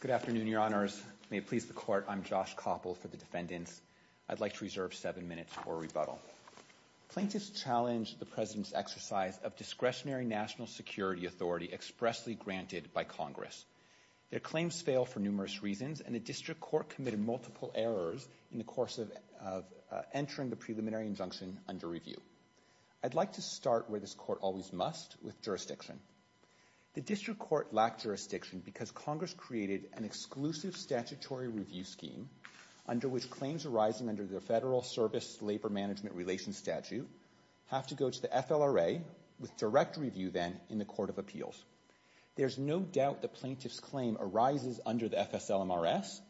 Good afternoon, Your Honors, may it please the Court, I'm Josh Koppel for the Defendants. I'd like to reserve seven minutes for rebuttal. Plaintiffs challenged the President's exercise of discretionary national security authority expressly granted by Congress. Their claims fail for numerous reasons, and the District Court committed multiple errors in the course of entering the preliminary injunction under review. I'd like to start where this Court always must, with jurisdiction. The District Court lacked jurisdiction because Congress created an exclusive statutory review scheme under which claims arising under the Federal Service Labor Management Relations Statute have to go to the FLRA, with direct review then in the Court of Appeals. There's no doubt the plaintiff's claim arises under the FSLMRS,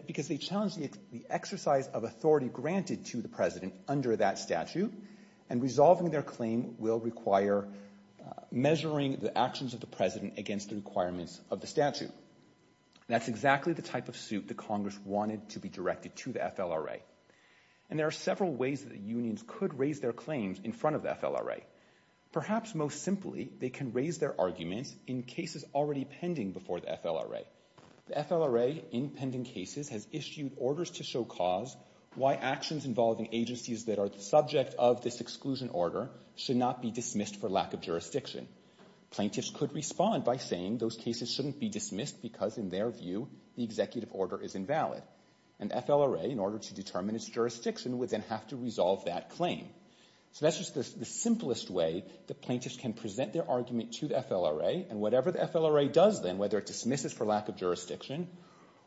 because they challenged the exercise of authority granted to the President under that statute, and resolving their claim will require measuring the actions of the President against the requirements of the statute. That's exactly the type of suit that Congress wanted to be directed to the FLRA. And there are several ways that the unions could raise their claims in front of the FLRA. Perhaps most simply, they can raise their arguments in cases already pending before the FLRA. The FLRA, in pending cases, has issued orders to show cause why actions involving agencies that are the subject of this exclusion order should not be dismissed for lack of jurisdiction. Plaintiffs could respond by saying those cases shouldn't be dismissed because, in their view, the executive order is invalid. And the FLRA, in order to determine its jurisdiction, would then have to resolve that claim. So that's just the simplest way that plaintiffs can present their argument to the FLRA, and whatever the FLRA does then, whether it dismisses for lack of jurisdiction,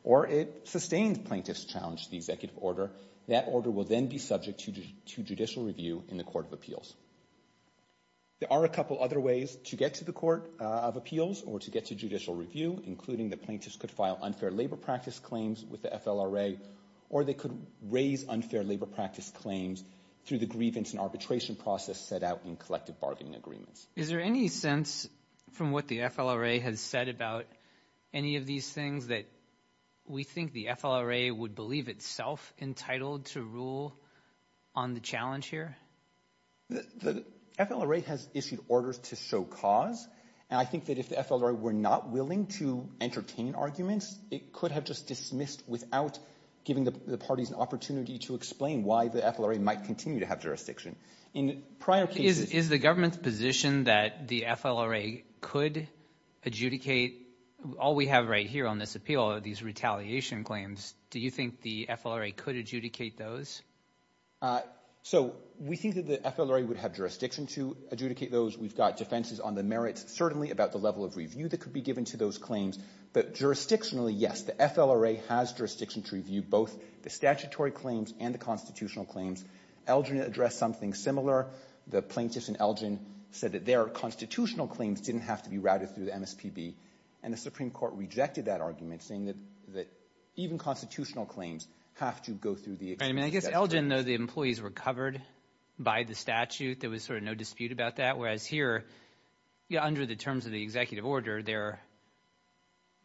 or it sustains plaintiffs' challenge to the executive order, that order will then be subject to judicial review in the Court of Appeals. There are a couple other ways to get to the Court of Appeals, or to get to judicial review, including that plaintiffs could file unfair labor practice claims with the FLRA, or they could raise unfair labor practice claims through the grievance and arbitration process set out in collective bargaining agreements. Is there any sense, from what the FLRA has said about any of these things, that we think the FLRA would believe itself entitled to rule on the challenge here? The FLRA has issued orders to show cause, and I think that if the FLRA were not willing to entertain arguments, it could have just dismissed without giving the parties an opportunity to explain why the FLRA might continue to have jurisdiction. Is the government's position that the FLRA could adjudicate all we have right here on this appeal, these retaliation claims, do you think the FLRA could adjudicate those? So we think that the FLRA would have jurisdiction to adjudicate those. We've got defenses on the merits, certainly about the level of review that could be given to those claims, but jurisdictionally, yes, the FLRA has jurisdiction to review both the statutory claims and the constitutional claims. Elgin addressed something similar. The plaintiffs in Elgin said that their constitutional claims didn't have to be routed through the MSPB, and the Supreme Court rejected that argument, saying that even constitutional claims have to go through the executive statute. I mean, I guess Elgin, though the employees were covered by the statute, there was sort of no dispute about that, whereas here, under the terms of the executive order, they're,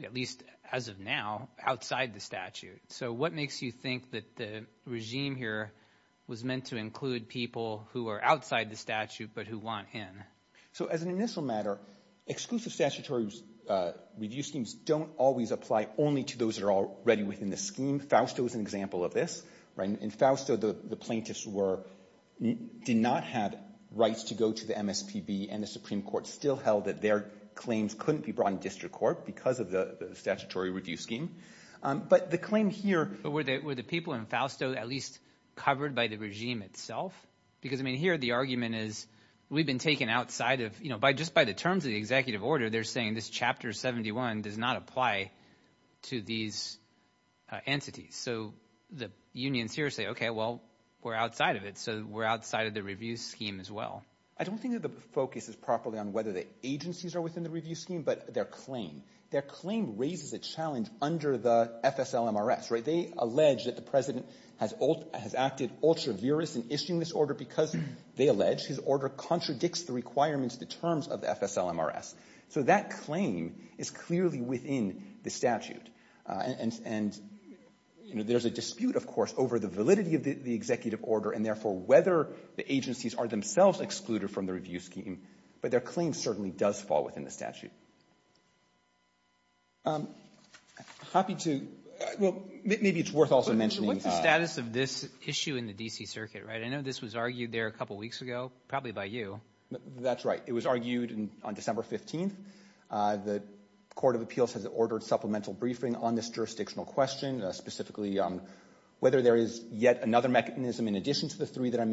at least as of now, outside the statute. So what makes you think that the regime here was meant to include people who are outside the statute, but who want in? So as an initial matter, exclusive statutory review schemes don't always apply only to those that are already within the scheme. Fausto is an example of this. In Fausto, the plaintiffs did not have rights to go to the MSPB, and the Supreme Court still held that their claims couldn't be brought in district court because of the statutory review scheme. But the claim here... But were the people in Fausto at least covered by the regime itself? Because I mean, here, the argument is, we've been taken outside of, you know, just by the terms of the executive order, they're saying this Chapter 71 does not apply to these entities. So the unions here say, okay, well, we're outside of it, so we're outside of the review scheme as well. I don't think that the focus is properly on whether the agencies are within the review scheme, but their claim. Their claim raises a challenge under the FSLMRS, right? They allege that the President has acted ultra-virus in issuing this order because, they allege, his order contradicts the requirements, the terms of the FSLMRS. So that claim is clearly within the statute. And there's a dispute, of course, over the validity of the executive order, and therefore whether the agencies are themselves excluded from the review scheme. But their claim certainly does fall within the statute. I'm happy to, well, maybe it's worth also mentioning- What's the status of this issue in the D.C. Circuit, right? I know this was argued there a couple weeks ago, probably by you. That's right. It was argued on December 15th. The Court of Appeals has ordered supplemental briefing on this jurisdictional question, specifically whether there is yet another mechanism in addition to the three that I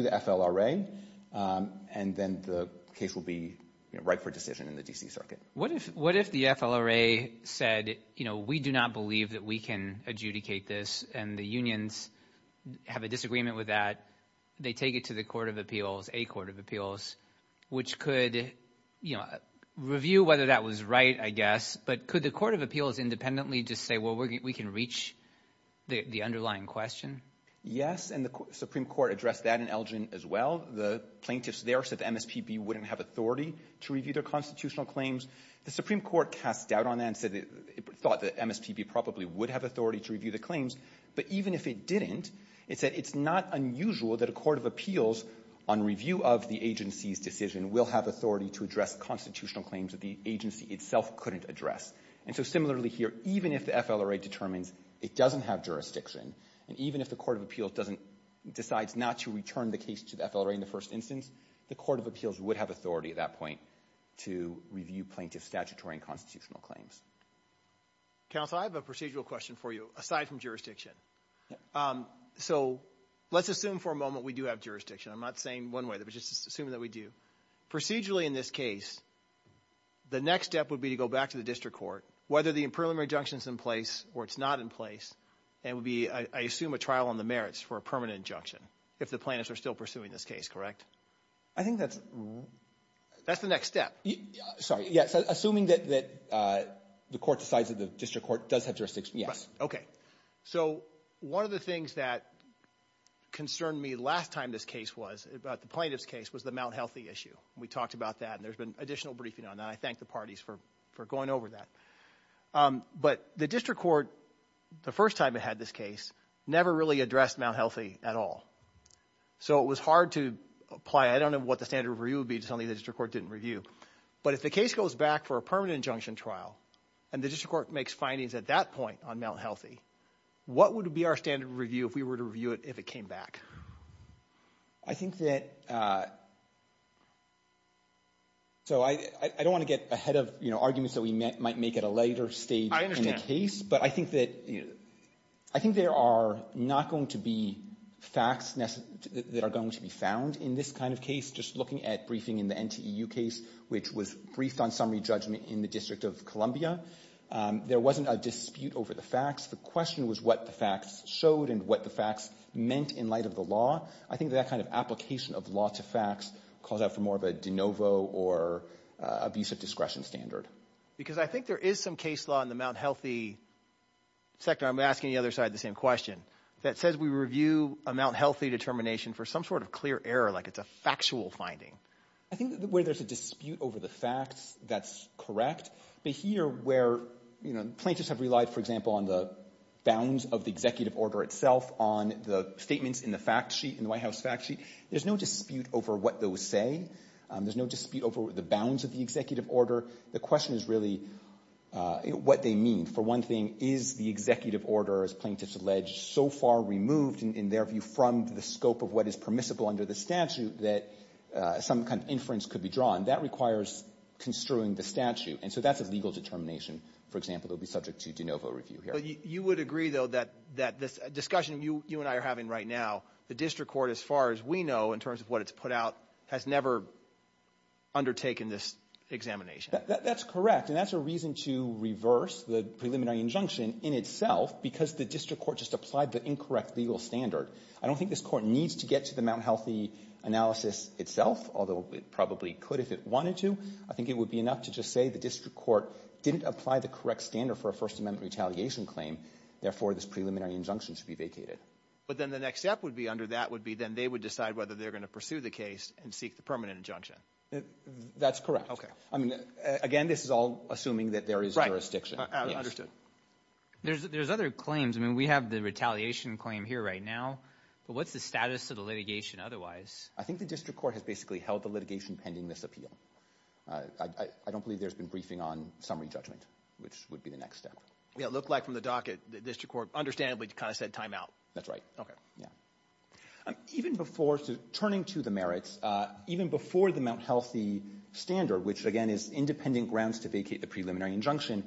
the FLRA, and then the case will be right for decision in the D.C. Circuit. What if the FLRA said, you know, we do not believe that we can adjudicate this, and the unions have a disagreement with that? They take it to the Court of Appeals, a Court of Appeals, which could, you know, review whether that was right, I guess. But could the Court of Appeals independently just say, well, we can reach the underlying question? Yes, and the Supreme Court addressed that in Elgin as well. The plaintiffs there said the MSPB wouldn't have authority to review their constitutional claims. The Supreme Court cast doubt on that and said it thought the MSPB probably would have authority to review the claims. But even if it didn't, it said it's not unusual that a Court of Appeals, on review of the agency's decision, will have authority to address constitutional claims that the agency itself couldn't address. And so similarly here, even if the FLRA determines it doesn't have jurisdiction, and even if the Court of Appeals doesn't, decides not to return the case to the FLRA in the first instance, the Court of Appeals would have authority at that point to review plaintiffs' statutory and constitutional claims. Counsel, I have a procedural question for you, aside from jurisdiction. So let's assume for a moment we do have jurisdiction. I'm not saying one way, but just assuming that we do. Procedurally in this case, the next step would be to go back to the district court, whether the preliminary injunction's in place or it's not in place, and it would be, I assume, a trial on the merits for a permanent injunction, if the plaintiffs are still pursuing this case, correct? I think that's... That's the next step. Sorry. Yes. Assuming that the court decides that the district court does have jurisdiction, yes. Right. Okay. So one of the things that concerned me last time this case was, about the plaintiff's case, was the Mount Healthy issue. We talked about that, and there's been additional briefing on that, and I thank the parties for going over that. But the district court, the first time it had this case, never really addressed Mount Healthy at all. So it was hard to apply. I don't know what the standard review would be, something the district court didn't review. But if the case goes back for a permanent injunction trial, and the district court makes findings at that point on Mount Healthy, what would be our standard review if we were to review it if it came back? I think that... So I don't want to get ahead of arguments that we might make at a later stage in the case, but I think that there are not going to be facts that are going to be found in this kind of case. Just looking at briefing in the NTEU case, which was briefed on summary judgment in the District of Columbia, there wasn't a dispute over the facts. The question was what the facts showed and what the facts meant in light of the law. I think that kind of application of law to facts calls out for more of a de novo or abusive discretion standard. Because I think there is some case law in the Mount Healthy sector, I'm asking the other side the same question, that says we review a Mount Healthy determination for some sort of clear error, like it's a factual finding. I think where there's a dispute over the facts, that's correct. But here, where plaintiffs have relied, for example, on the bounds of the executive order itself, on the statements in the White House fact sheet, there's no dispute over what those say. There's no dispute over the bounds of the executive order. The question is really what they mean. For one thing, is the executive order, as plaintiffs allege, so far removed, in their view, from the scope of what is permissible under the statute that some kind of inference could be drawn? That requires construing the statute. And so that's a legal determination, for example, that would be subject to de novo review here. But you would agree, though, that this discussion you and I are having right now, the district court, as far as we know, in terms of what it's put out, has never undertaken this examination. That's correct. And that's a reason to reverse the preliminary injunction in itself, because the district court just applied the incorrect legal standard. I don't think this court needs to get to the Mount Healthy analysis itself, although it probably could if it wanted to. I think it would be enough to just say the district court didn't apply the correct standard for a First Amendment retaliation claim. Therefore, this preliminary injunction should be vacated. But then the next step would be under that would be then they would decide whether they're going to pursue the case and seek the permanent injunction. That's correct. I mean, again, this is all assuming that there is jurisdiction. There's other claims. I mean, we have the retaliation claim here right now. But what's the status of the litigation otherwise? I think the district court has basically held the litigation pending this appeal. I don't believe there's been briefing on summary judgment, which would be the next step. Yeah, it looked like from the docket, the district court understandably kind of said time out. That's right. OK. Yeah. Even before turning to the merits, even before the Mount Healthy standard, which again is independent grounds to vacate the preliminary injunction,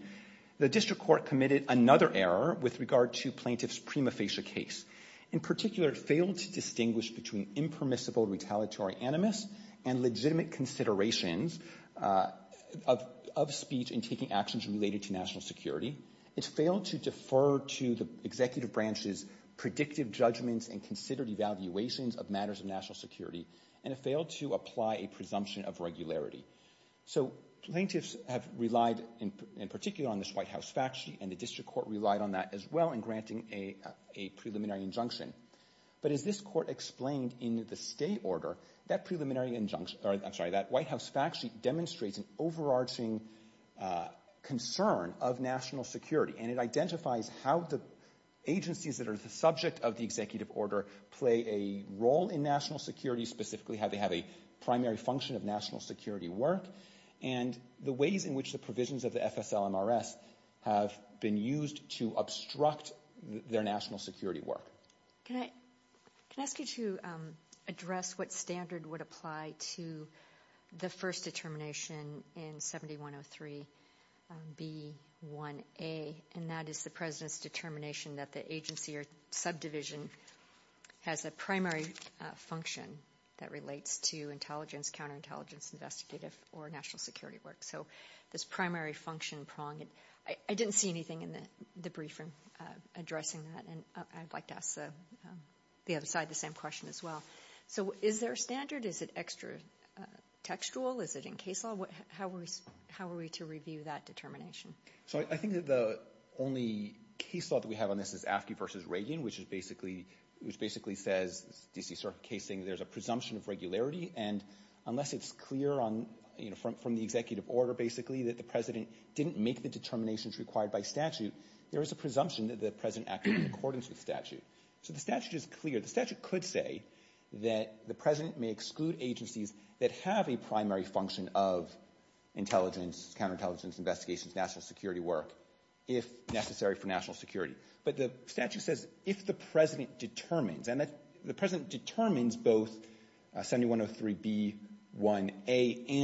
the district court committed another error with regard to plaintiff's prima facie case. In particular, it failed to distinguish between impermissible retaliatory animus and legitimate considerations of of speech in taking actions related to national security. It failed to defer to the executive branch's predictive judgments and considered evaluations of matters of national security. And it failed to apply a presumption of regularity. So plaintiffs have relied in particular on this White House fact sheet and the district court relied on that as well in granting a preliminary injunction. But as this court explained in the stay order, that preliminary injunction or I'm sorry, that White House fact sheet demonstrates an overarching concern of national security and it identifies how the agencies that are the subject of the executive order play a role in national security, specifically how they have a primary function of national security work and the ways in which the provisions of the FSLMRS have been used to obstruct their national security work. Can I can I ask you to address what standard would apply to the first determination in 7103B1A, and that is the president's determination that the agency or subdivision has a primary function that relates to intelligence, counterintelligence, investigative or national security work. So this primary function prong, I didn't see anything in the briefing addressing that. And I'd like to ask the other side the same question as well. So is there a standard? Is it extra textual? Is it in case law? How are we how are we to review that determination? So I think that the only case law that we have on this is AFSCME versus Reagan, which is basically, which basically says DC Circuit case saying there's a presumption of regularity. And unless it's clear on, you know, from from the executive order, basically that the president didn't make the determinations required by statute, there is a presumption that the president acted in accordance with statute. So the statute is clear. The statute could say that the president may exclude agencies that have a primary function of intelligence, counterintelligence, investigations, national security work if necessary for national security. But the statute says if the president determines and the president determines both 7103B1A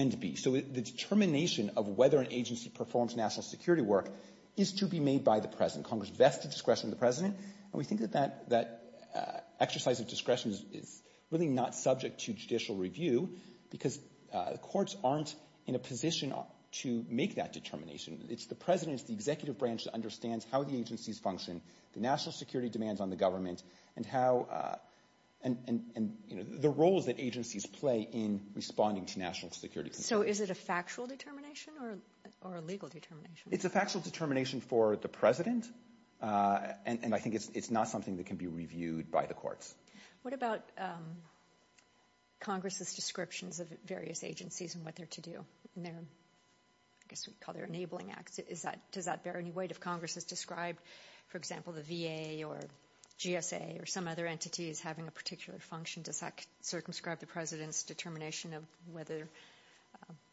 and B. So the determination of whether an agency performs national security work is to be made by the president. Congress vests the discretion of the president. And we think that that that exercise of discretion is really not subject to judicial review because the courts aren't in a position to make that determination. It's the president, the executive branch that understands how the agencies function, the national security demands on the government and how and the roles that agencies play in responding to national security. So is it a factual determination or a legal determination? It's a factual determination for the president. And I think it's not something that can be reviewed by the courts. What about Congress's descriptions of various agencies and what they're to do there? I guess we call their enabling acts. Is that does that bear any weight? If Congress has described, for example, the V.A. or GSA or some other entities having a particular function, does that circumscribe the president's determination of whether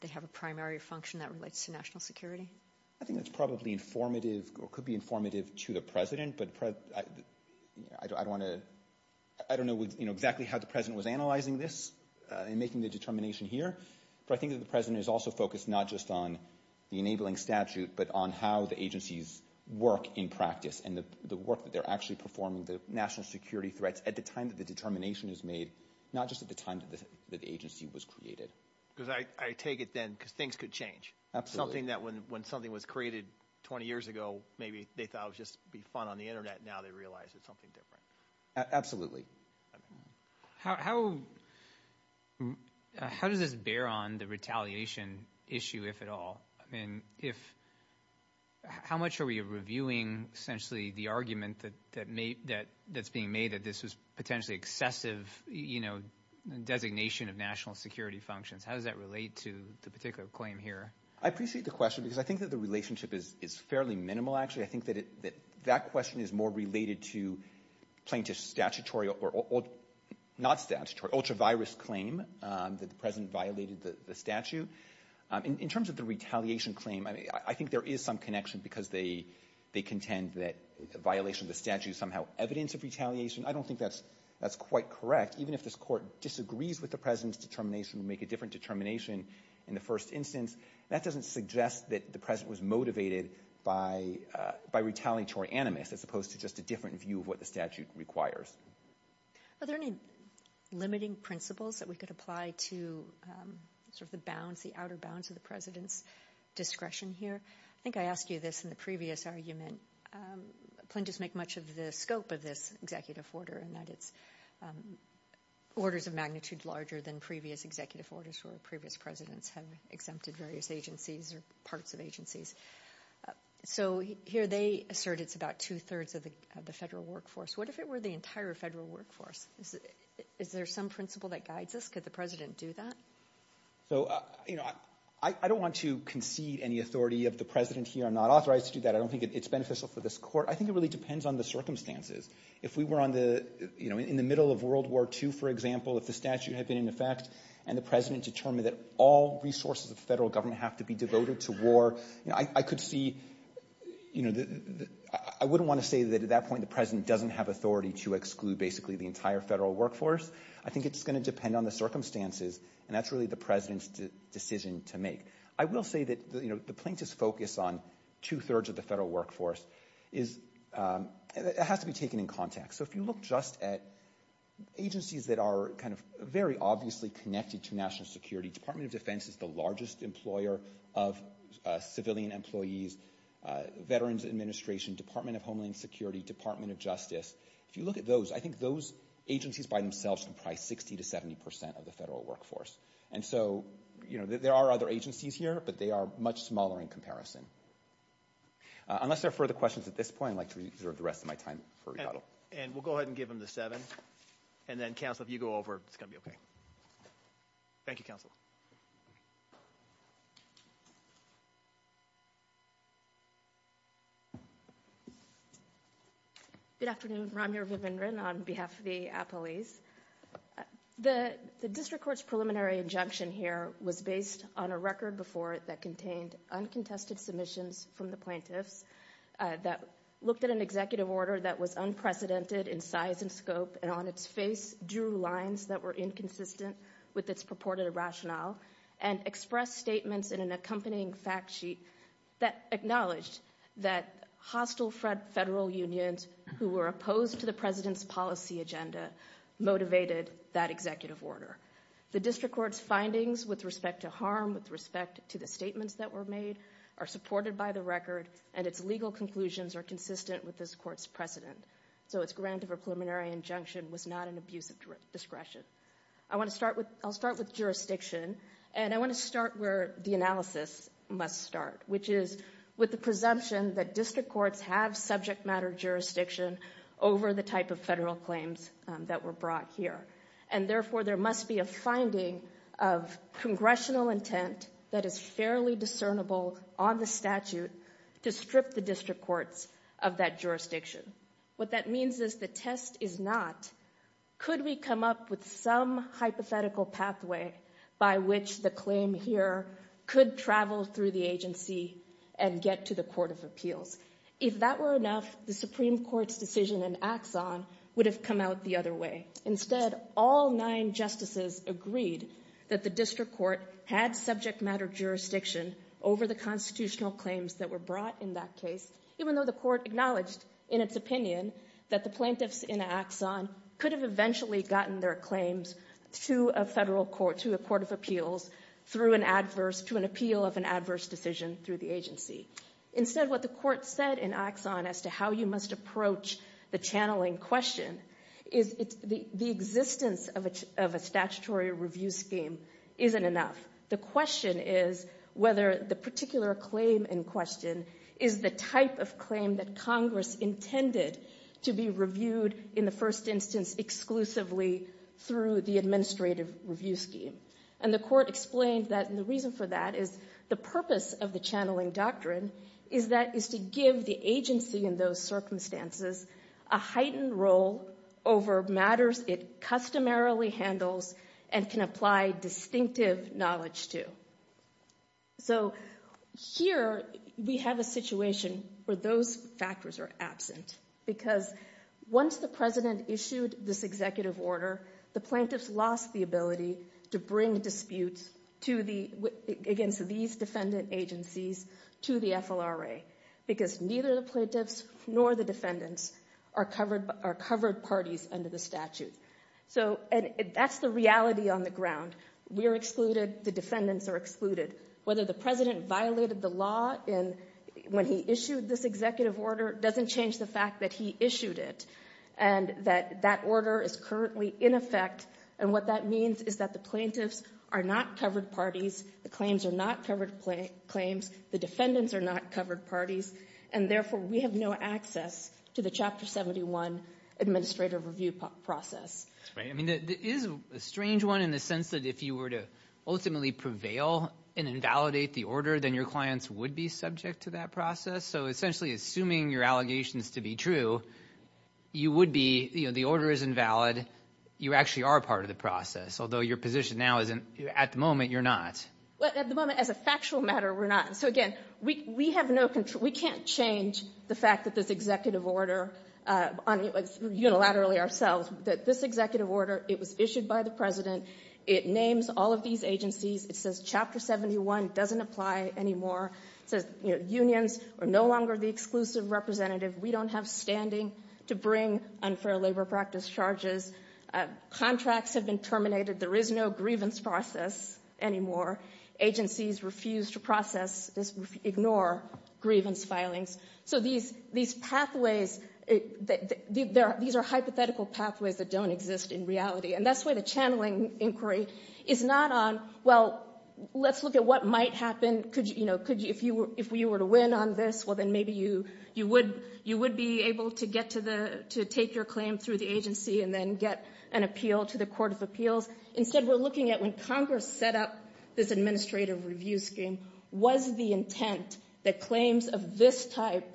they have a primary function that relates to national security? I think that's probably informative or could be informative to the president. But I don't want to I don't know exactly how the president was analyzing this and making the determination here. But I think that the president is also focused not just on the enabling statute, but on how the agencies work in practice and the work that they're actually performing, the national security threats at the time that the determination is made, not just at the time that the agency was created. Because I take it then because things could change, something that when something was created 20 years ago, maybe they thought it would just be fun on the Internet. Now they realize it's something different. Absolutely. How how does this bear on the retaliation issue, if at all? I mean, if how much are we reviewing essentially the argument that that may that that's being made that this is potentially excessive, you know, designation of national security functions? How does that relate to the particular claim here? I appreciate the question because I think that the relationship is is fairly minimal, actually. I think that that question is more related to plaintiff's statutory or not statutory ultra-virus claim that the president violated the statute. In terms of the retaliation claim, I think there is some connection because they they contend that violation of the statute is somehow evidence of retaliation. I don't think that's that's quite correct. Even if this court disagrees with the president's determination to make a different determination in the first instance, that doesn't suggest that the president was motivated by by retaliatory animus as opposed to just a different view of what the statute requires. Are there any limiting principles that we could apply to sort of the bounds, the outer bounds of the president's discretion here? I think I asked you this in the previous argument. Plaintiffs make much of the scope of this executive order and that it's orders of magnitude larger than previous executive orders for previous presidents have exempted various agencies or parts of agencies. So here they assert it's about two thirds of the federal workforce. What if it were the entire federal workforce? Is there some principle that guides us? Could the president do that? So, you know, I don't want to concede any authority of the president here. I'm not authorized to do that. I don't think it's beneficial for this court. I think it really depends on the circumstances. If we were on the, you know, in the middle of World War II, for example, if the statute had been in effect and the president determined that all resources of federal government have to be devoted to war, you know, I could see, you know, I wouldn't want to say that at that point the president doesn't have authority to exclude basically the entire federal workforce. I think it's going to depend on the circumstances. And that's really the president's decision to make. I will say that, you know, the plaintiff's focus on two thirds of the federal workforce is, it has to be taken in context. So if you look just at agencies that are kind of very obviously connected to national security, Department of Defense is the largest employer of civilian employees, Veterans Administration, Department of Homeland Security, Department of Justice. If you look at those, I think those agencies by themselves comprise 60 to 70 percent of the federal workforce. And so, you know, there are other agencies here, but they are much smaller in comparison. Unless there are further questions at this point, I'd like to reserve the rest of my time for rebuttal. And we'll go ahead and give him the seven. And then, counsel, if you go over, it's going to be OK. Thank you, counsel. Good afternoon, Ramya Vivendran on behalf of the appellees. The district court's preliminary injunction here was based on a record before it that contained uncontested submissions from the plaintiffs that looked at an executive order that was unprecedented in size and scope and on its face, drew lines that were inconsistent with its purported rationale and expressed statements in an accompanying factsheet that acknowledged that hostile federal unions who were opposed to the president's policy agenda motivated that executive order. The district court's findings with respect to harm, with respect to the statements that were made, are supported by the record and its legal conclusions are consistent with this court's precedent. So its grant of a preliminary injunction was not an abuse of discretion. I want to start with I'll start with jurisdiction and I want to start where the analysis must start, which is with the presumption that district courts have subject matter jurisdiction over the type of federal claims that were brought here. And therefore, there must be a finding of congressional intent that is fairly discernible on the statute to strip the district courts of that jurisdiction. What that means is the test is not, could we come up with some hypothetical pathway by which the claim here could travel through the agency and get to the court of appeals? If that were enough, the Supreme Court's decision in Axon would have come out the other way. Instead, all nine justices agreed that the district court had subject matter jurisdiction over the constitutional claims that were brought in that case, even though the court acknowledged in its opinion that the plaintiffs in Axon could have eventually gotten their claims to a federal court, to a court of appeals through an adverse, to an appeal of an adverse decision through the agency. Instead, what the court said in Axon as to how you must approach the channeling question is the existence of a statutory review scheme isn't enough. The question is whether the particular claim in question is the type of claim that Congress intended to be reviewed in the first instance exclusively through the administrative review scheme. And the court explained that the reason for that is the purpose of the channeling doctrine is that is to give the agency in those circumstances a heightened role over matters it customarily handles and can apply distinctive knowledge to. So here we have a situation where those factors are absent because once the president issued this executive order, the plaintiffs lost the ability to bring disputes against these defendant agencies to the FLRA because neither the plaintiffs nor the defendants are covered parties under the statute. So that's the reality on the ground. We're excluded. The defendants are excluded. Whether the president violated the law when he issued this executive order doesn't change the fact that he issued it and that that order is currently in effect. And what that means is that the plaintiffs are not covered parties. The claims are not covered claims. The defendants are not covered parties. And therefore, we have no access to the Chapter 71 administrative review process. I mean, there is a strange one in the sense that if you were to ultimately prevail and invalidate the order, then your clients would be subject to that process. So essentially, assuming your allegations to be true, you would be, you know, the order is invalid. You actually are part of the process, although your position now is at the moment you're not. Well, at the moment, as a factual matter, we're not. So again, we have no control. We can't change the fact that this executive order unilaterally ourselves, that this executive order, it was issued by the president. It names all of these agencies. It says Chapter 71 doesn't apply anymore. It says unions are no longer the exclusive representative. We don't have standing to bring unfair labor practice charges. Contracts have been terminated. There is no grievance process anymore. Agencies refuse to process this, ignore grievance filings. So these pathways, these are hypothetical pathways that don't exist in reality. And that's where the channeling inquiry is not on, well, let's look at what might happen. Could you, you know, if we were to win on this, well, then maybe you would be able to get to the, to take your claim through the agency and then get an appeal to the Court of Appeals. Instead, we're looking at when Congress set up this administrative review scheme, was the intent that claims of this type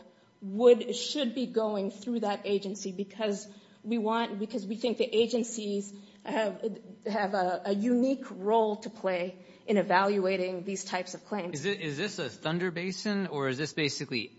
would, should be going through that agency? Because we want, because we think the agencies have a unique role to play in evaluating these types of claims. Is this a Thunder Basin or is this basically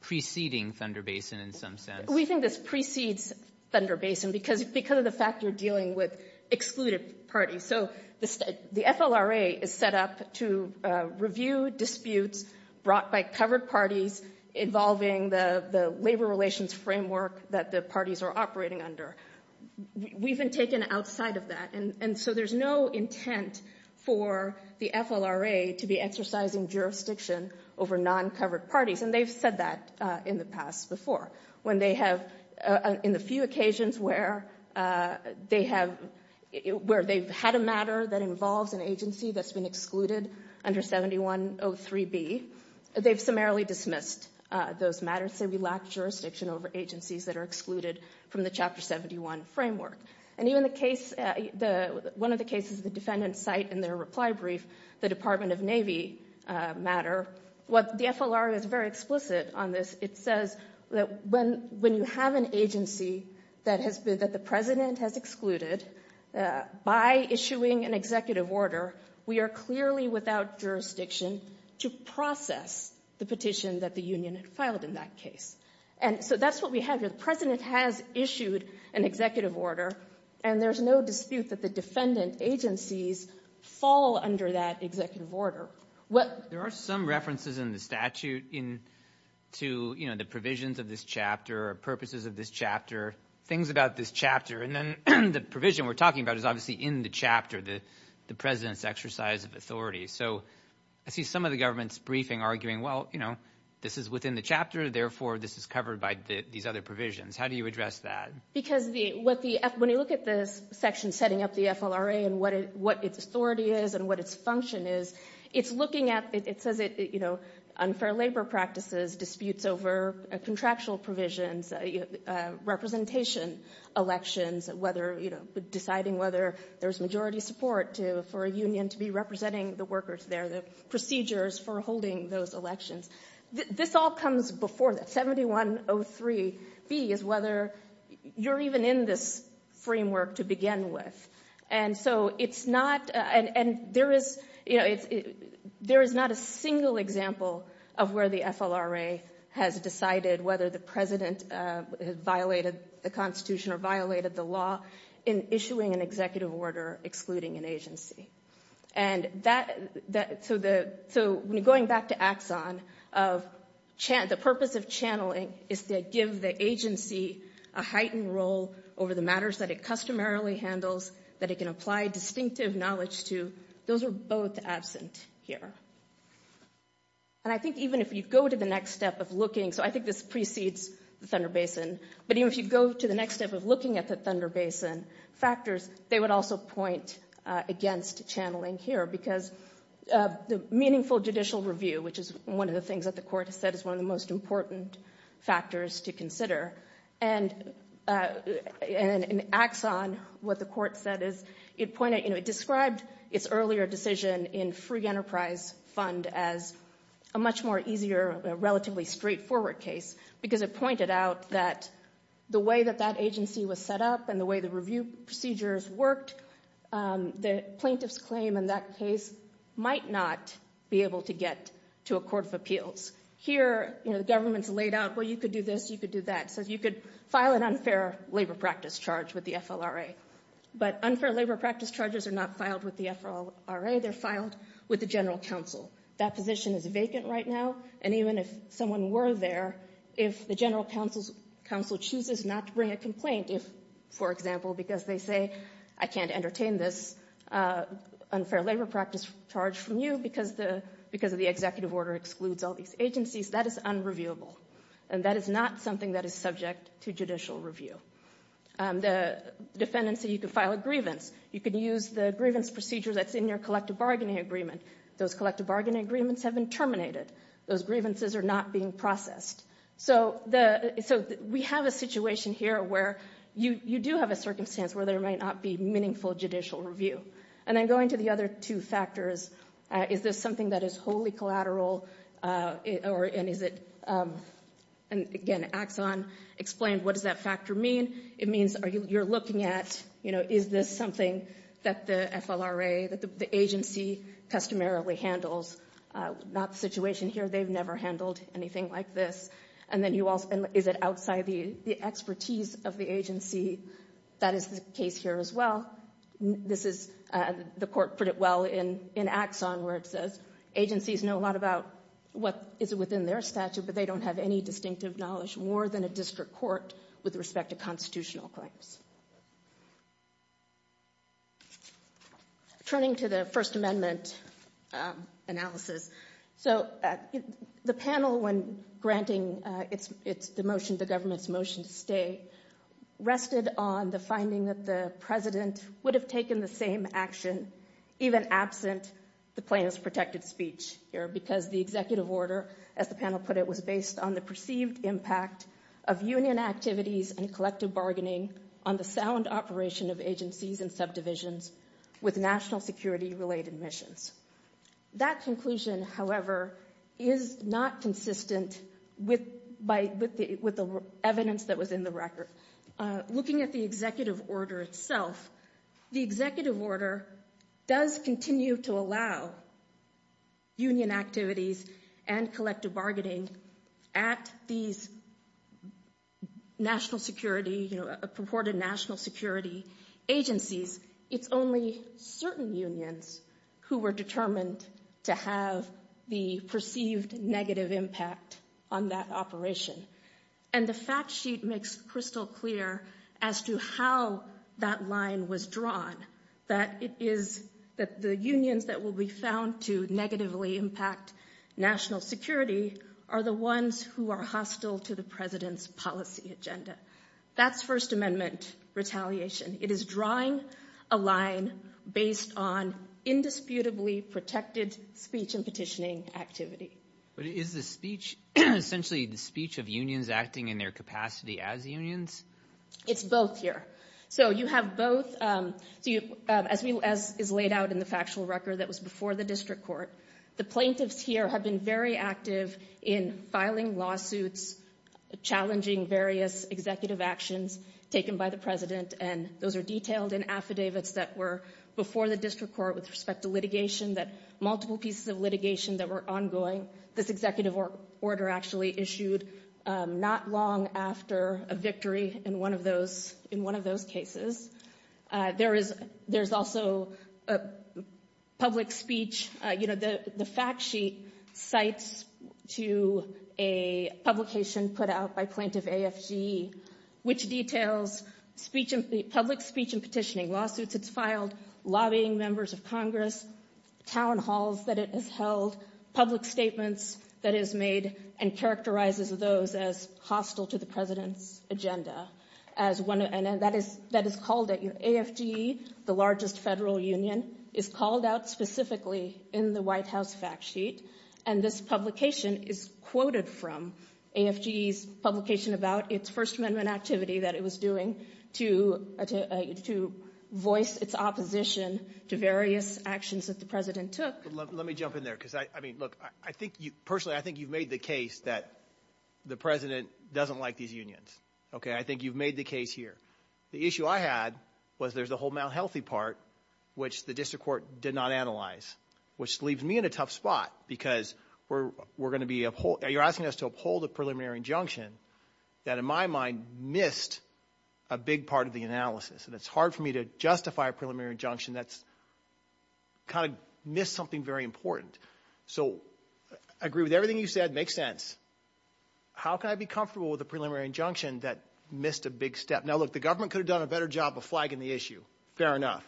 preceding Thunder Basin in some sense? We think this precedes Thunder Basin because, because of the fact you're dealing with excluded parties. So the FLRA is set up to review disputes brought by covered parties involving the labor relations framework that the parties are operating under. We've been taken outside of that. And so there's no intent for the FLRA to be exercising jurisdiction over non-covered parties. And they've said that in the past before. When they have, in the few occasions where they have, where they've had a matter that involves an agency that's been excluded under 7103B, they've summarily dismissed those matters. They say we lack jurisdiction over agencies that are excluded from the Chapter 71 framework. And even the case, the, one of the cases the defendants cite in their reply brief, the Department of Navy matter, what the FLRA is very explicit on this. It says that when, when you have an agency that has been, that the President has excluded, by issuing an executive order, we are clearly without jurisdiction to process the petition that the union had filed in that case. And so that's what we have here. The President has issued an executive order, and there's no dispute that the defendant agencies fall under that executive order. There are some references in the statute in, to, you know, the provisions of this chapter or purposes of this chapter, things about this chapter. And then the provision we're talking about is obviously in the chapter, the, the President's exercise of authority. So I see some of the government's briefing arguing, well, you know, this is within the chapter, therefore this is covered by these other provisions. How do you address that? Because the, what the, when you look at this section setting up the FLRA and what it, what its authority is and what its function is, it's looking at, it says it, you know, unfair labor practices, disputes over a contractual provisions, representation elections, whether, you know, deciding whether there's majority support to, for a union to be representing the workers there, the procedures for holding those elections. This all comes before that 7103B is whether you're even in this framework to begin with. And so it's not, and, and there is, you know, it's, there is not a single example of where the FLRA has decided whether the President violated the Constitution or violated the law in issuing an executive order excluding an agency. And that, that, so the, so going back to Axon of, the purpose of channeling is to give the agency a heightened role over the matters that it customarily handles, that it can apply distinctive knowledge to. Those are both absent here. And I think even if you go to the next step of looking, so I think this precedes the Thunder Basin, but even if you go to the next step of looking at the Thunder Basin factors, they would also point against channeling here because the meaningful judicial review, which is one of the things that the court has said is one of the most important factors to consider, and, and Axon, what the court said is, it pointed, you know, it described its earlier decision in free enterprise fund as a much more easier, relatively straightforward case because it pointed out that the way that that agency was set up and the way the review procedures worked, the plaintiff's claim in that case might not be able to get to a court of appeals. Here, you know, the government's laid out, well, you could do this, you could do that. So if you could file an unfair labor practice charge with the FLRA, but unfair labor practice charges are not filed with the FLRA, they're filed with the general counsel. That position is vacant right now. And even if someone were there, if the general counsel's counsel chooses not to bring a complaint, if, for example, because they say, I can't entertain this unfair labor practice charge from you because the, because of the executive order excludes all these agencies, that is unreviewable. And that is not something that is subject to judicial review. The defendants say you could file a grievance. You could use the grievance procedure that's in your collective bargaining agreement. Those collective bargaining agreements have been terminated. Those grievances are not being processed. So the, so we have a situation here where you, you do have a circumstance where there might not be meaningful judicial review. And then going to the other two factors, is this something that is wholly collateral? Or is it, and again, Axon explained what does that factor mean? It means you're looking at, you know, is this something that the FLRA, that the agency customarily handles? Not the situation here. They've never handled anything like this. And then you also, is it outside the expertise of the agency? That is the case here as well. This is, the court put it well in Axon where it says agencies know a lot about what is within their statute, but they don't have any distinctive knowledge, more than a district court, with respect to constitutional claims. Turning to the First Amendment analysis. So the panel, when granting the motion, the government's motion to stay, rested on the finding that the president would have taken the same action, even absent the plaintiff's protected speech here, because the executive order, as the panel put it, was based on the perceived impact of union activities and collective bargaining on the sound operation of agencies and subdivisions with national security related missions. That conclusion, however, is not consistent with the evidence that was in the record. Looking at the executive order itself, the executive order does continue to allow union activities and collective bargaining at these national security, you know, purported national security agencies. It's only certain unions who were determined to have the perceived negative impact on that operation. And the fact sheet makes crystal clear as to how that line was drawn, that it is that the unions that will be found to negatively impact national security are the ones who are hostile to the president's policy agenda. That's First Amendment retaliation. It is drawing a line based on indisputably protected speech and petitioning activity. But is the speech essentially the speech of unions acting in their capacity as unions? It's both here. So you have both. So as is laid out in the factual record that was before the district court, the plaintiffs here have been very active in filing lawsuits, challenging various executive actions taken by the president. And those are detailed in affidavits that were before the district court with respect to litigation that multiple pieces of litigation that were ongoing. This executive order actually issued not long after a victory in one of those in one of those cases. There is there's also a public speech. You know, the fact sheet cites to a publication put out by plaintiff AFG, which details public speech and petitioning lawsuits. It's filed lobbying members of Congress town halls that it has held public statements that is made and characterizes those as hostile to the president's agenda as one. And that is that is called it your AFG, the largest federal union, is called out specifically in the White House fact sheet. And this publication is quoted from AFG publication about its First Amendment activity that it was doing to to voice its opposition to various actions that the president took. Let me jump in there because I mean, look, I think you personally I think you've made the case that the president doesn't like these unions. OK, I think you've made the case here. The issue I had was there's a whole malhealthy part which the district court did not analyze, which leaves me in a tough spot because we're we're going to be you're asking us to uphold a preliminary injunction that, in my mind, missed a big part of the analysis. And it's hard for me to justify a preliminary injunction that's. Kind of missed something very important, so I agree with everything you said makes sense. How can I be comfortable with a preliminary injunction that missed a big step now that the government could have done a better job of flagging the issue? Fair enough.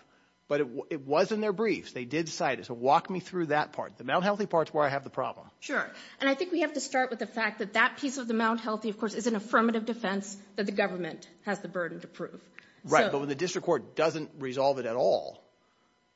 But it was in their briefs. They did cite as a walk me through that part, the malhealthy parts where I have the problem. Sure. And I think we have to start with the fact that that piece of the malhealthy, of course, is an affirmative defense that the government has the burden to prove. Right. But when the district court doesn't resolve it at all.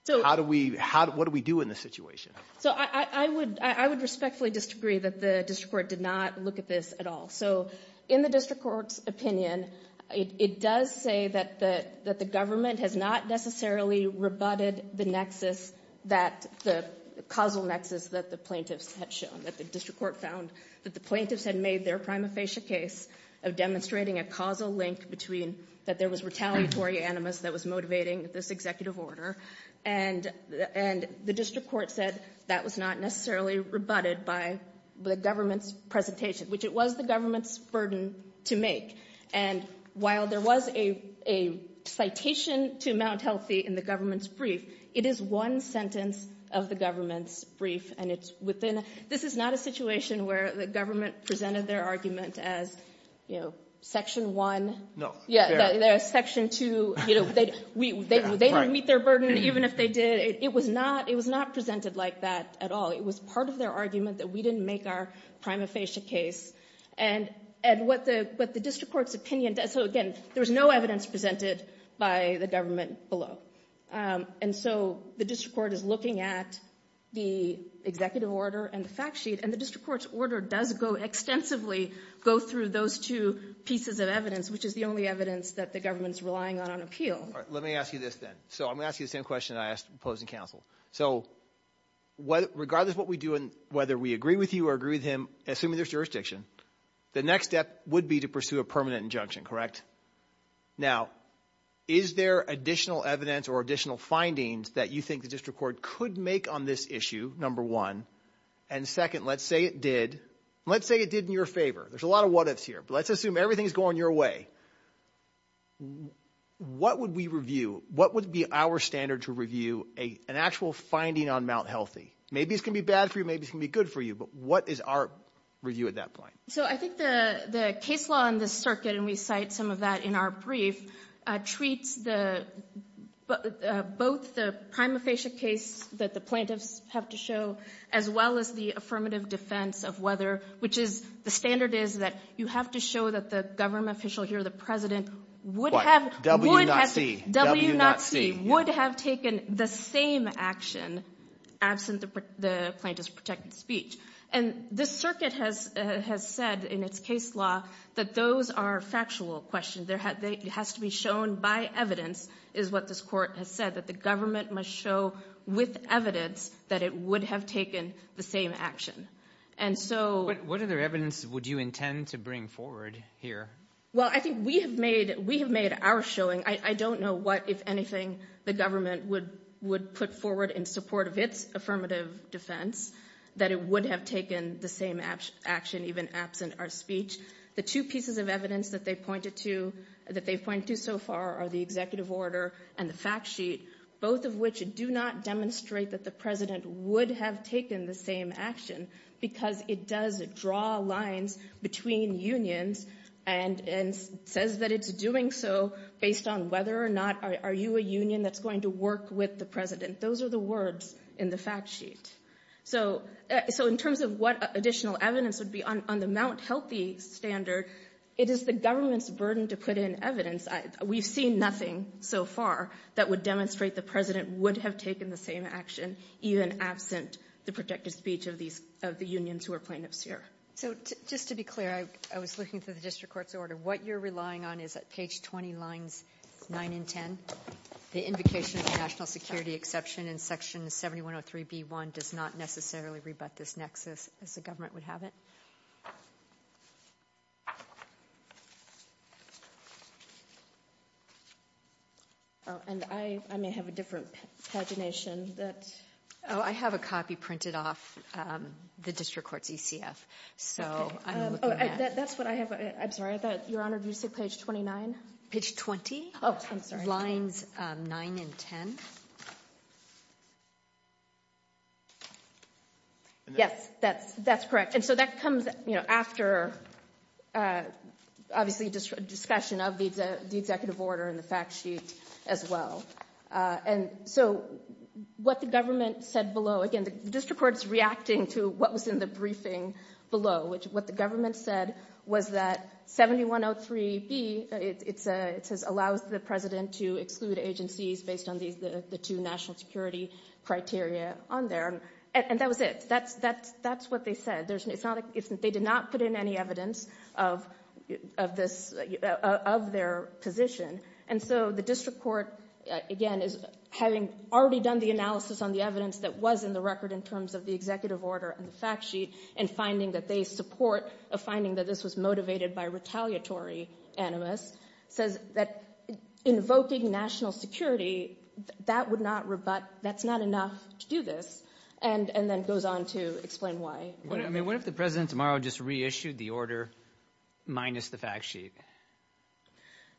So how do we how what do we do in this situation? So I would I would respectfully disagree that the district court did not look at this at all. So in the district court's opinion, it does say that that that the government has not necessarily rebutted the nexus that the causal nexus that the plaintiffs had shown that the district court found that the plaintiffs had made their prima facie case of demonstrating a causal link between that there was retaliatory animus that was motivating this executive order. And and the district court said that was not necessarily rebutted by the government's presentation, which it was the government's burden to make. And while there was a a citation to Mount Healthy in the government's brief, it is one sentence of the government's brief. And it's within. This is not a situation where the government presented their argument as, you know, section one. No. Yeah. There's section two. You know, they they they don't meet their burden, even if they did. It was not it was not presented like that at all. It was part of their argument that we didn't make our prima facie case. And and what the what the district court's opinion does. So, again, there was no evidence presented by the government below. And so the district court is looking at the executive order and the fact sheet. And the district court's order does go extensively go through those two pieces of evidence, which is the only evidence that the government's relying on on appeal. Let me ask you this then. So I'm asking the same question I asked opposing counsel. So what regardless what we do and whether we agree with you or agree with him, assuming there's jurisdiction, the next step would be to pursue a permanent injunction. Correct. Now, is there additional evidence or additional findings that you think the district court could make on this issue? Number one and second, let's say it did. Let's say it did in your favor. There's a lot of what ifs here, but let's assume everything's going your way. What would we review? What would be our standard to review an actual finding on Mount Healthy? Maybe it's going to be bad for you. Maybe it can be good for you. But what is our review at that point? So I think the case law in the circuit, and we cite some of that in our brief, treats the both the prima facie case that the plaintiffs have to show, as well as the affirmative defense of whether, which is the standard is that you have to show that the government official here, the president, would have WNC, WNC, would have taken the same action absent the plaintiff's protected speech. And this circuit has has said in its case law that those are factual questions. There has to be shown by evidence is what this court has said, that the government must show with evidence that it would have taken the same action. And so what other evidence would you intend to bring forward here? Well, I think we have made we have made our showing. I don't know what, if anything, the government would would put forward in support of its affirmative defense, that it would have taken the same action, even absent our speech. The two pieces of evidence that they pointed to that they point to so far are the executive order and the fact sheet, both of which do not demonstrate that the president would have taken the same action because it does draw lines between unions and and says that it's doing so based on whether or not are you a union that's going to work with the president? Those are the words in the fact sheet. So so in terms of what additional evidence would be on the Mount Healthy standard, it is the government's burden to put in evidence. We've seen nothing so far that would demonstrate the president would have taken the same action, even absent the protected speech of these of the unions who are plaintiffs here. So just to be clear, I was looking through the district court's order. What you're relying on is that page 20 lines nine and 10, the invocation of the national security exception in Section 7103B1 does not necessarily rebut this nexus as the government would have it. And I may have a different pagination that I have a copy printed off the district court's ECF, so that's what I have. I'm sorry about your honor. Do you say page twenty nine, page 20? Oh, I'm sorry. Lines nine and ten. Yes, that's that's correct. And so that comes after, obviously, a discussion of the executive order in the fact sheet as well. And so what the government said below again, the district court's reacting to what was in the briefing below, which what the government said was that 7103B, it says allows the president to exclude agencies based on the two national security criteria on there. And that was it. That's what they said. They did not put in any evidence of this, of their position. And so the district court, again, is having already done the analysis on the evidence that was in the record in terms of the executive order and the fact sheet and finding that they support a finding that this was motivated by retaliatory animus, says that invoking national security, that would not rebut, that's not enough to do this, and then goes on to explain why. I mean, what if the president tomorrow just reissued the order minus the fact sheet?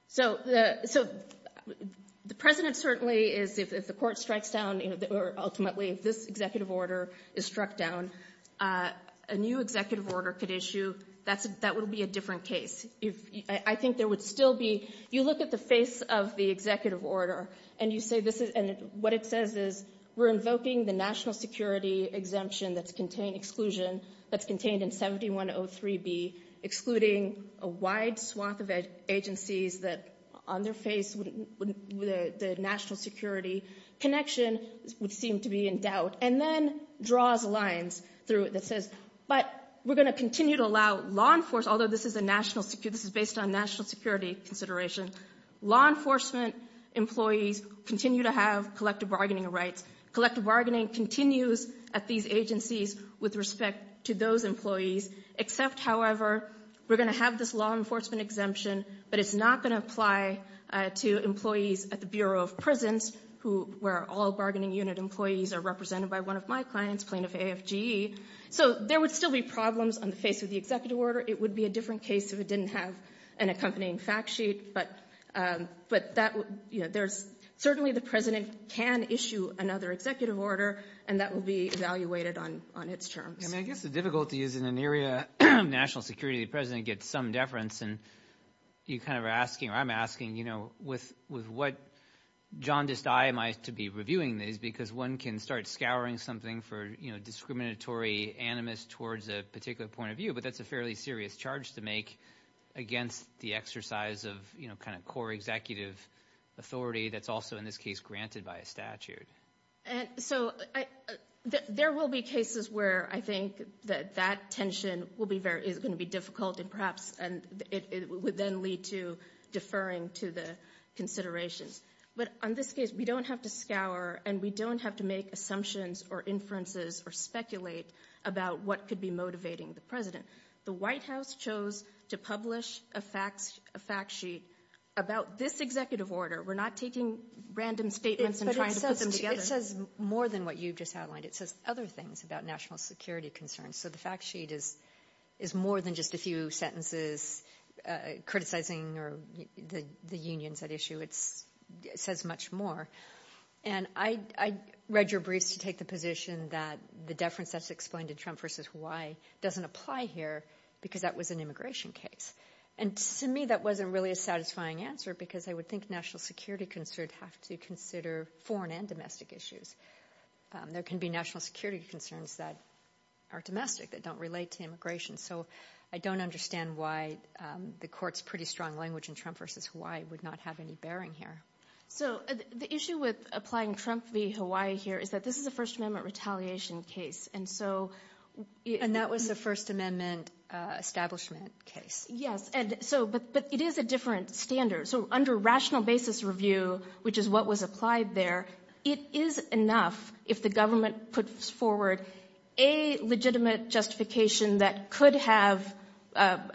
So the president certainly is, if the court strikes down or ultimately if this executive order is struck down, a new executive order could issue, that would be a different case. I think there would still be, you look at the face of the executive order and you say this is, and what it says is, we're invoking the national security exemption that's contained exclusion, that's contained in 7103B, excluding a wide swath of agencies that on their face would, the national security connection would seem to be in doubt. And then draws lines through it that says, but we're going to continue to allow law enforcement, although this is a national security, this is based on national security consideration, law enforcement employees continue to have collective bargaining rights. Collective bargaining continues at these agencies with respect to those employees, except, however, we're going to have this law enforcement exemption, but it's not going to apply to employees at the Bureau of Prisons, who, where all bargaining unit employees are represented by one of my clients, plaintiff AFGE. So there would still be problems on the face of the executive order. It would be a different case if it didn't have an accompanying fact sheet, but, but that, you know, there's certainly the president can issue another executive order, and that will be evaluated on, on its terms. I mean, I guess the difficulty is in an area of national security, the president gets some deference and you kind of are asking, or I'm asking, you know, with, with what jaundiced eye am I to be reviewing these, because one can start scouring something for, you know, discriminatory animus towards a particular point of view, but that's a fairly serious charge to make against the exercise of, you know, kind of core executive authority that's also in this case granted by a statute. And so I, there will be cases where I think that that tension will be very, is going to be difficult and perhaps, and it would then lead to deferring to the considerations. But on this case, we don't have to scour and we don't have to make assumptions or inferences or speculate about what could be motivating the president. The White House chose to publish a facts, a fact sheet about this executive order. We're not taking random statements and trying to put them together. It says more than what you've just outlined. It says other things about national security concerns. So the fact sheet is, is more than just a few sentences criticizing or the, the unions at issue. It's, it says much more. And I, I read your briefs to take the position that the deference that's explained to Trump versus Hawaii doesn't apply here because that was an immigration case. And to me, that wasn't really a satisfying answer because I would think national security concerned have to consider foreign and domestic issues. There can be national security concerns that are domestic that don't relate to immigration. So I don't understand why the court's pretty strong language in Trump versus Hawaii would not have any bearing here. So the issue with applying Trump v. Hawaii here is that this is a first amendment retaliation case. And so... And that was a first amendment establishment case. Yes. And so, but, but it is a different standard. So under rational basis review, which is what was applied there, it is enough if the government puts forward a legitimate justification that could have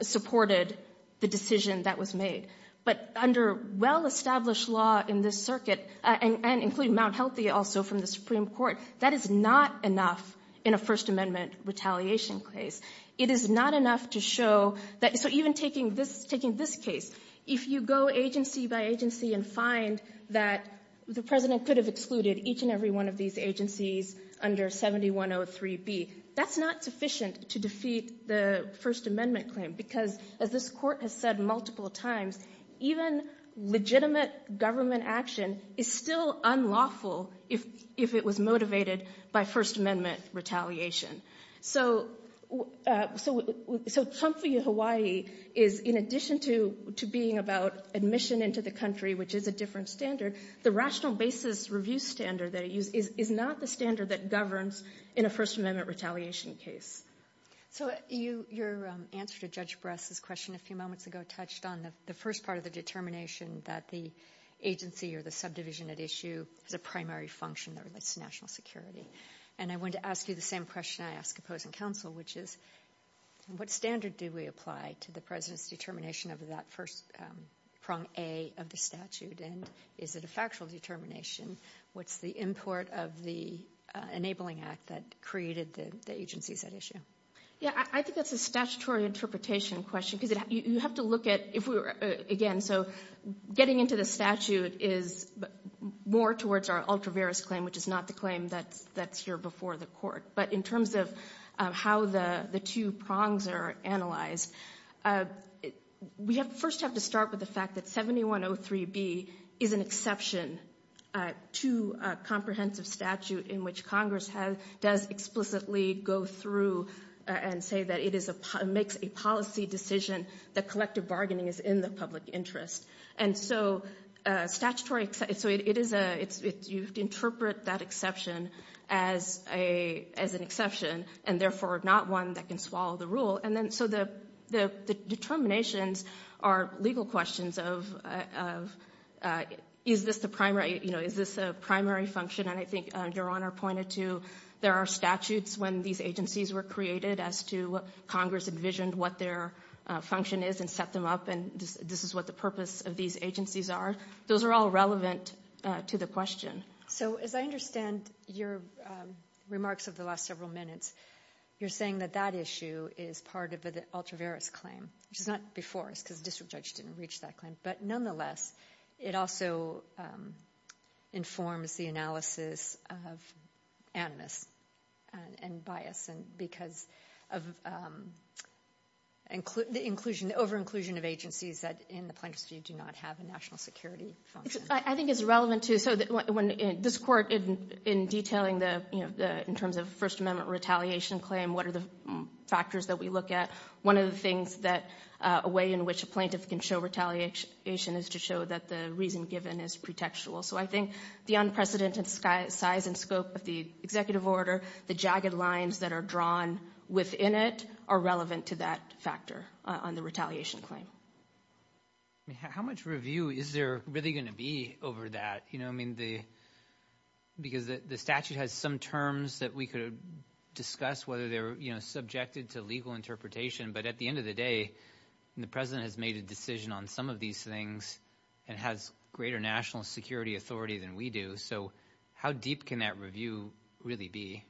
supported the decision that was made. But under well-established law in this circuit, and including Mount Healthy also from the Supreme Court, that is not enough in a first amendment retaliation case. It is not enough to show that, so even taking this, taking this case, if you go agency by agency and find that the president could have excluded each and every one of these agencies under 7103B, that's not sufficient to defeat the first amendment claim. Because as this court has said multiple times, even legitimate government action is still unlawful if it was motivated by first amendment retaliation. So Trump v. Hawaii is, in addition to being about admission into the country, which is a different standard, the rational basis review standard that it uses is not the standard that governs in a first amendment retaliation case. So your answer to Judge Bress's question a few moments ago touched on the first part of the determination that the agency or the subdivision at issue is a primary function that relates to national security. And I wanted to ask you the same question I ask opposing counsel, which is, what standard do we apply to the president's determination of that first prong A of the statute, and is it a factual determination? What's the import of the enabling act that created the agencies at issue? Yeah, I think that's a statutory interpretation question, because you have to look at, if we were, again, so getting into the statute is more towards our ultra-various claim, which is not the claim that's here before the court. But in terms of how the two prongs are analyzed, we first have to start with the fact that 7103B is an exception to a comprehensive statute in which Congress does explicitly go through and say that it makes a policy decision that collective bargaining is in the public interest. And so statutory, so it is a, you have to interpret that exception as an exception, and therefore not one that can swallow the rule. And then, so the determinations are legal questions of, is this the primary, you know, is this a primary function, and I think Your Honor pointed to there are statutes when these agencies were created as to what Congress envisioned what their function is and set them up, and this is what the purpose of these agencies are. Those are all relevant to the question. So as I understand your remarks of the last several minutes, you're saying that that issue is part of the ultra-various claim, which is not before, it's because the district judge didn't reach that claim. But nonetheless, it also informs the analysis of animus and bias, and because of the inclusion, over-inclusion of agencies that in the plaintiff's view do not have a national security function. I think it's relevant to, so when this Court, in detailing the, you know, in terms of First Amendment retaliation claim, what are the factors that we look at, one of the things that a way in which a plaintiff can show retaliation is to show that the reason given is pretextual. So I think the unprecedented size and scope of the executive order, the jagged lines that are drawn within it are relevant to that factor on the retaliation claim. How much review is there really going to be over that? You know, I mean, the, because the statute has some terms that we could discuss whether they're, you know, subjected to legal interpretation, but at the end of the day, the President has made a decision on some of these things and has greater national security authority than we do. So how deep can that review really be?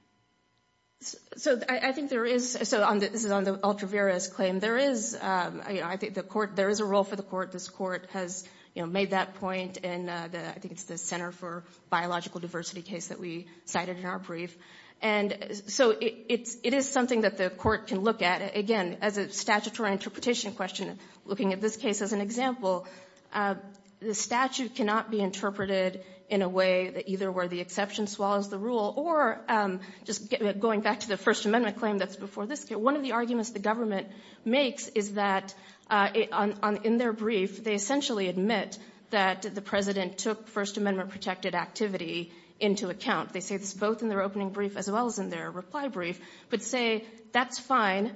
So I think there is, so this is on the ultra-various claim, there is, you know, I think the Court, there is a role for the Court. This Court has, you know, made that point in the, I think it's the Center for Biological Diversity case that we cited in our brief. And so it is something that the Court can look at. Again, as a statutory interpretation question, looking at this case as an example, the statute cannot be interpreted in a way that either where the exception swallows the rule or just going back to the First Amendment claim that's before this case. One of the arguments the government makes is that in their brief, they essentially admit that the President took First Amendment-protected activity into account. They say this both in their opening brief as well as in their reply brief, but say that's fine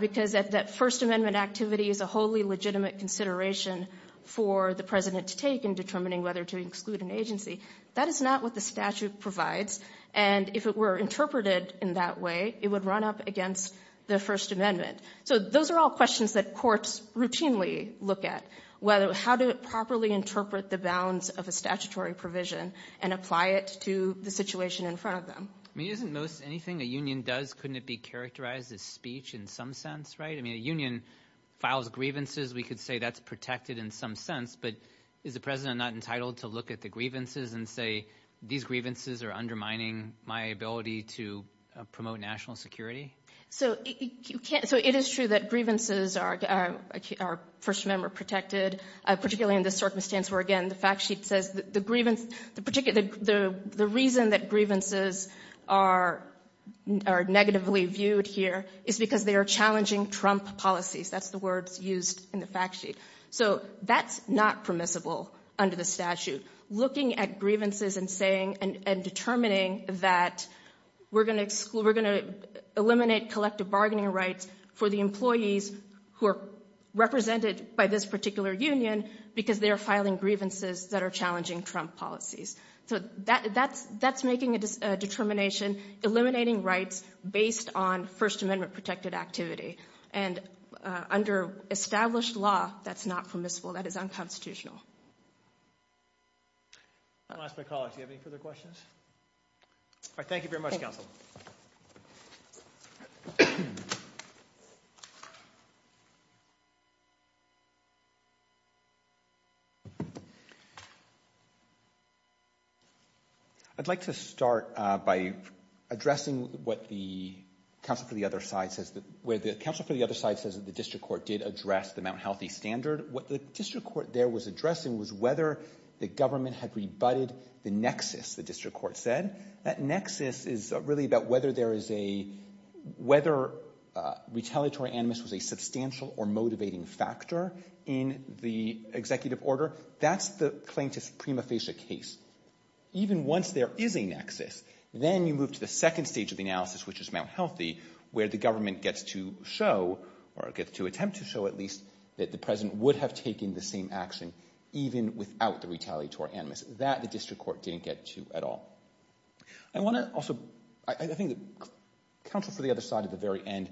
because that First Amendment activity is a wholly legitimate consideration for the President to take in determining whether to exclude an agency. That is not what the statute provides. And if it were interpreted in that way, it would run up against the First Amendment. So those are all questions that courts routinely look at, whether how to properly interpret the bounds of a statutory provision and apply it to the situation in front of them. I mean, isn't most anything a union does, couldn't it be characterized as speech in some sense, right? I mean, a union files grievances. We could say that's protected in some sense, but is the President not entitled to look at the grievances and say, these grievances are undermining my ability to promote national security? So it is true that grievances are First Amendment-protected, particularly in this circumstance where, again, the fact sheet says the reason that grievances are negatively viewed here is because they are challenging Trump policies. That's the words used in the fact sheet. So that's not permissible under the statute. Looking at grievances and saying and determining that we're going to eliminate collective bargaining rights for the employees who are represented by this particular union because they are grievances that are challenging Trump policies. So that's making a determination, eliminating rights based on First Amendment-protected activity. And under established law, that's not permissible. That is unconstitutional. I'm going to ask my colleague, do you have any further questions? All right. Thank you very much, Counsel. I'd like to start by addressing what the counsel for the other side says, where the counsel for the other side says that the district court did address the Mount Healthy Standard. What the district court there was addressing was whether the government had rebutted the nexus, the district court said. That nexus is really about whether there is a, whether retaliatory animus was a substantial or motivating factor in the executive order. That's the plaintiff's prima facie case. Even once there is a nexus, then you move to the second stage of the analysis, which is Mount Healthy, where the government gets to show or gets to attempt to show at least that the president would have taken the same action even without the retaliatory animus. That the district court didn't get to at all. I want to also, I think the counsel for the other side at the very end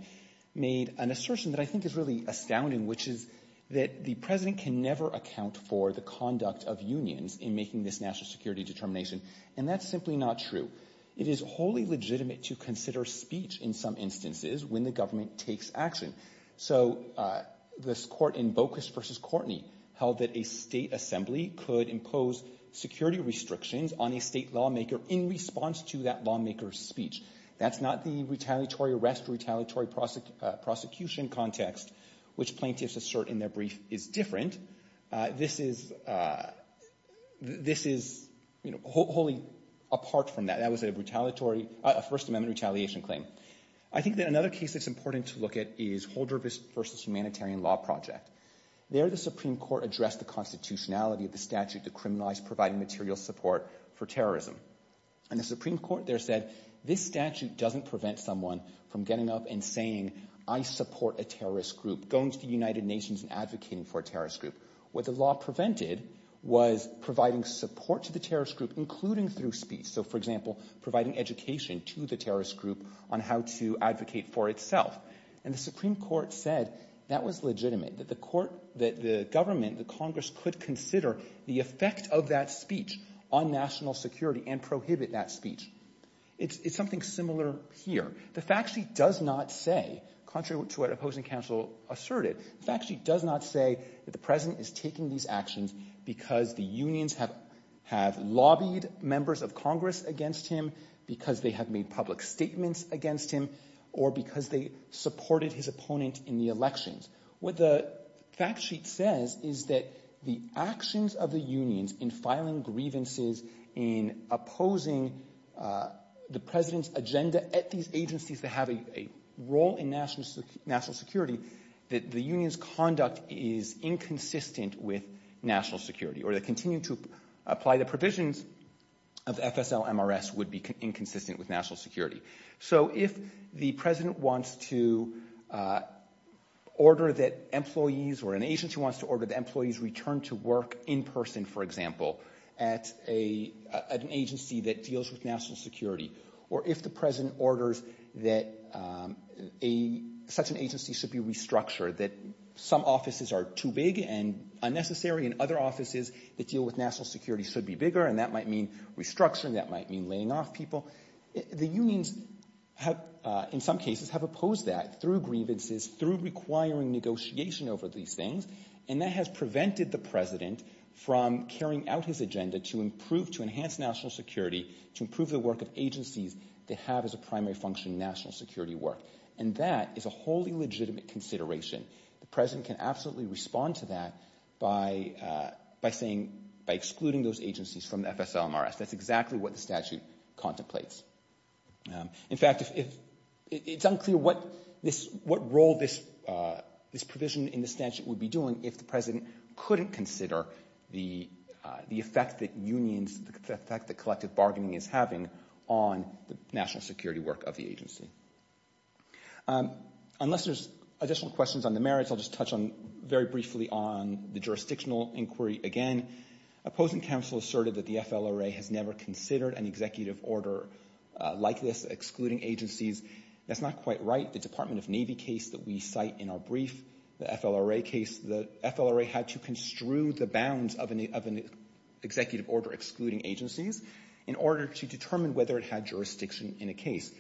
made an assertion that I think is really astounding, which is that the president can never account for the conduct of unions in making this national security determination, and that's simply not true. It is wholly legitimate to consider speech in some instances when the government takes action. So this court in Bocas versus Courtney held that a state assembly could impose security restrictions on a state lawmaker in response to that lawmaker's speech. That's not the retaliatory arrest, retaliatory prosecution context, which plaintiffs assert in their brief is different. This is wholly apart from that. That was a retaliatory, a First Amendment retaliation claim. I think that another case that's important to look at is Holder versus Humanitarian Law Project. There, the Supreme Court addressed the constitutionality of the statute to criminalize providing material support for terrorism. And the Supreme Court there said, this statute doesn't prevent someone from getting up and saying I support a terrorist group, going to the United Nations and advocating for a terrorist group. What the law prevented was providing support to the terrorist group, including through speech. So for example, providing education to the terrorist group on how to advocate for itself. And the Supreme Court said that was legitimate, that the court, that the government, the Congress could consider the effect of that speech on national security and prohibit that speech. It's something similar here. The fact sheet does not say, contrary to what opposing counsel asserted, the fact sheet does not say that the president is taking these actions because the unions have lobbied members of Congress against him, because they have made public statements against him, or because they supported his opponent in the elections. What the fact sheet says is that the actions of the unions in filing grievances, in opposing the president's agenda at these agencies that have a role in national security, that the union's conduct is inconsistent with national security, or they continue to apply the provisions of FSL-MRS would be inconsistent with national security. So if the president wants to order that employees, or an agency wants to order that employees return to work in person, for example, at an agency that deals with national security, or if the president orders that such an agency should be restructured, that some offices are too big and unnecessary, and other offices that deal with national security should be put somewhere, and that might mean restructuring, that might mean laying off people. The unions, in some cases, have opposed that through grievances, through requiring negotiation over these things, and that has prevented the president from carrying out his agenda to improve, to enhance national security, to improve the work of agencies that have as a primary function national security work. And that is a wholly legitimate consideration. The president can absolutely respond to that by saying, by excluding those agencies from FSL-MRS. That's exactly what the statute contemplates. In fact, it's unclear what role this provision in the statute would be doing if the president couldn't consider the effect that unions, the effect that collective bargaining is having on the national security work of the agency. Unless there's additional questions on the merits, I'll just touch on, very briefly, on the jurisdictional inquiry again. Opposing counsel asserted that the FLRA has never considered an executive order like this, excluding agencies. That's not quite right. The Department of Navy case that we cite in our brief, the FLRA case, the FLRA had to construe the bounds of an executive order excluding agencies in order to determine whether it had jurisdiction in a case.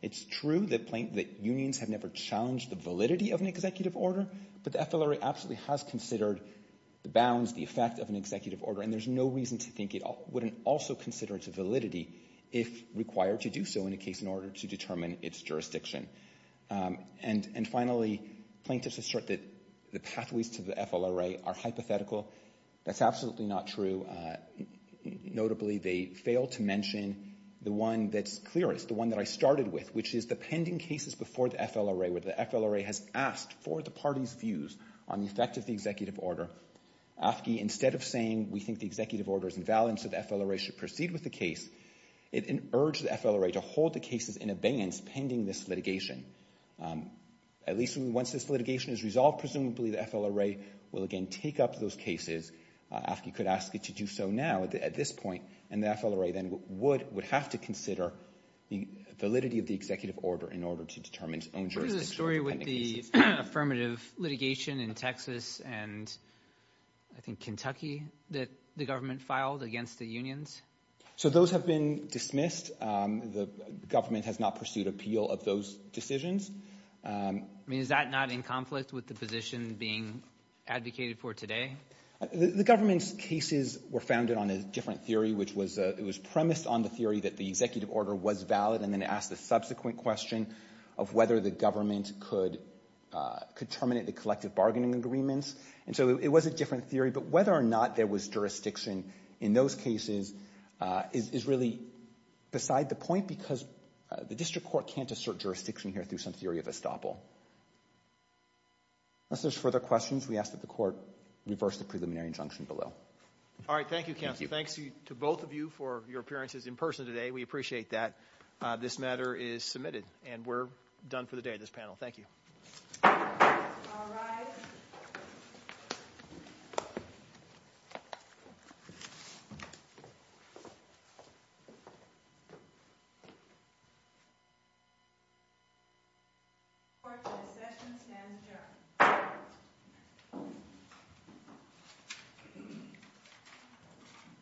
It's true that unions have never challenged the validity of an executive order, but the FLRA absolutely has considered the bounds, the effect of an executive order. And there's no reason to think it wouldn't also consider its validity if required to do so in a case in order to determine its jurisdiction. And finally, plaintiffs assert that the pathways to the FLRA are hypothetical. That's absolutely not true. Notably, they fail to mention the one that's clearest, the one that I started with, which is the pending cases before the FLRA, where the FLRA has asked for the party's views on the effect of the executive order. AFSCME, instead of saying, we think the executive order is invalid, so the FLRA should proceed with the case, it urged the FLRA to hold the cases in abeyance pending this litigation. At least once this litigation is resolved, presumably the FLRA will again take up those cases. AFSCME could ask it to do so now at this point, and the FLRA then would have to consider the validity of the executive order in order to determine its own jurisdiction. What is the story with the affirmative litigation in Texas and I think Kentucky that the government filed against the unions? So those have been dismissed. The government has not pursued appeal of those decisions. I mean, is that not in conflict with the position being advocated for today? The government's cases were founded on a different theory, which was premised on the theory that the executive order was valid and then asked the subsequent question of whether the government could terminate the collective bargaining agreements. And so it was a different theory, but whether or not there was jurisdiction in those cases is really beside the point because the district court can't assert jurisdiction here through some theory of estoppel. Unless there's further questions, we ask that the court reverse the preliminary injunction below. All right. Thank you, counsel. Thanks to both of you for your appearances in person today. We appreciate that. This matter is submitted and we're done for the day, this panel. Thank you. All rise.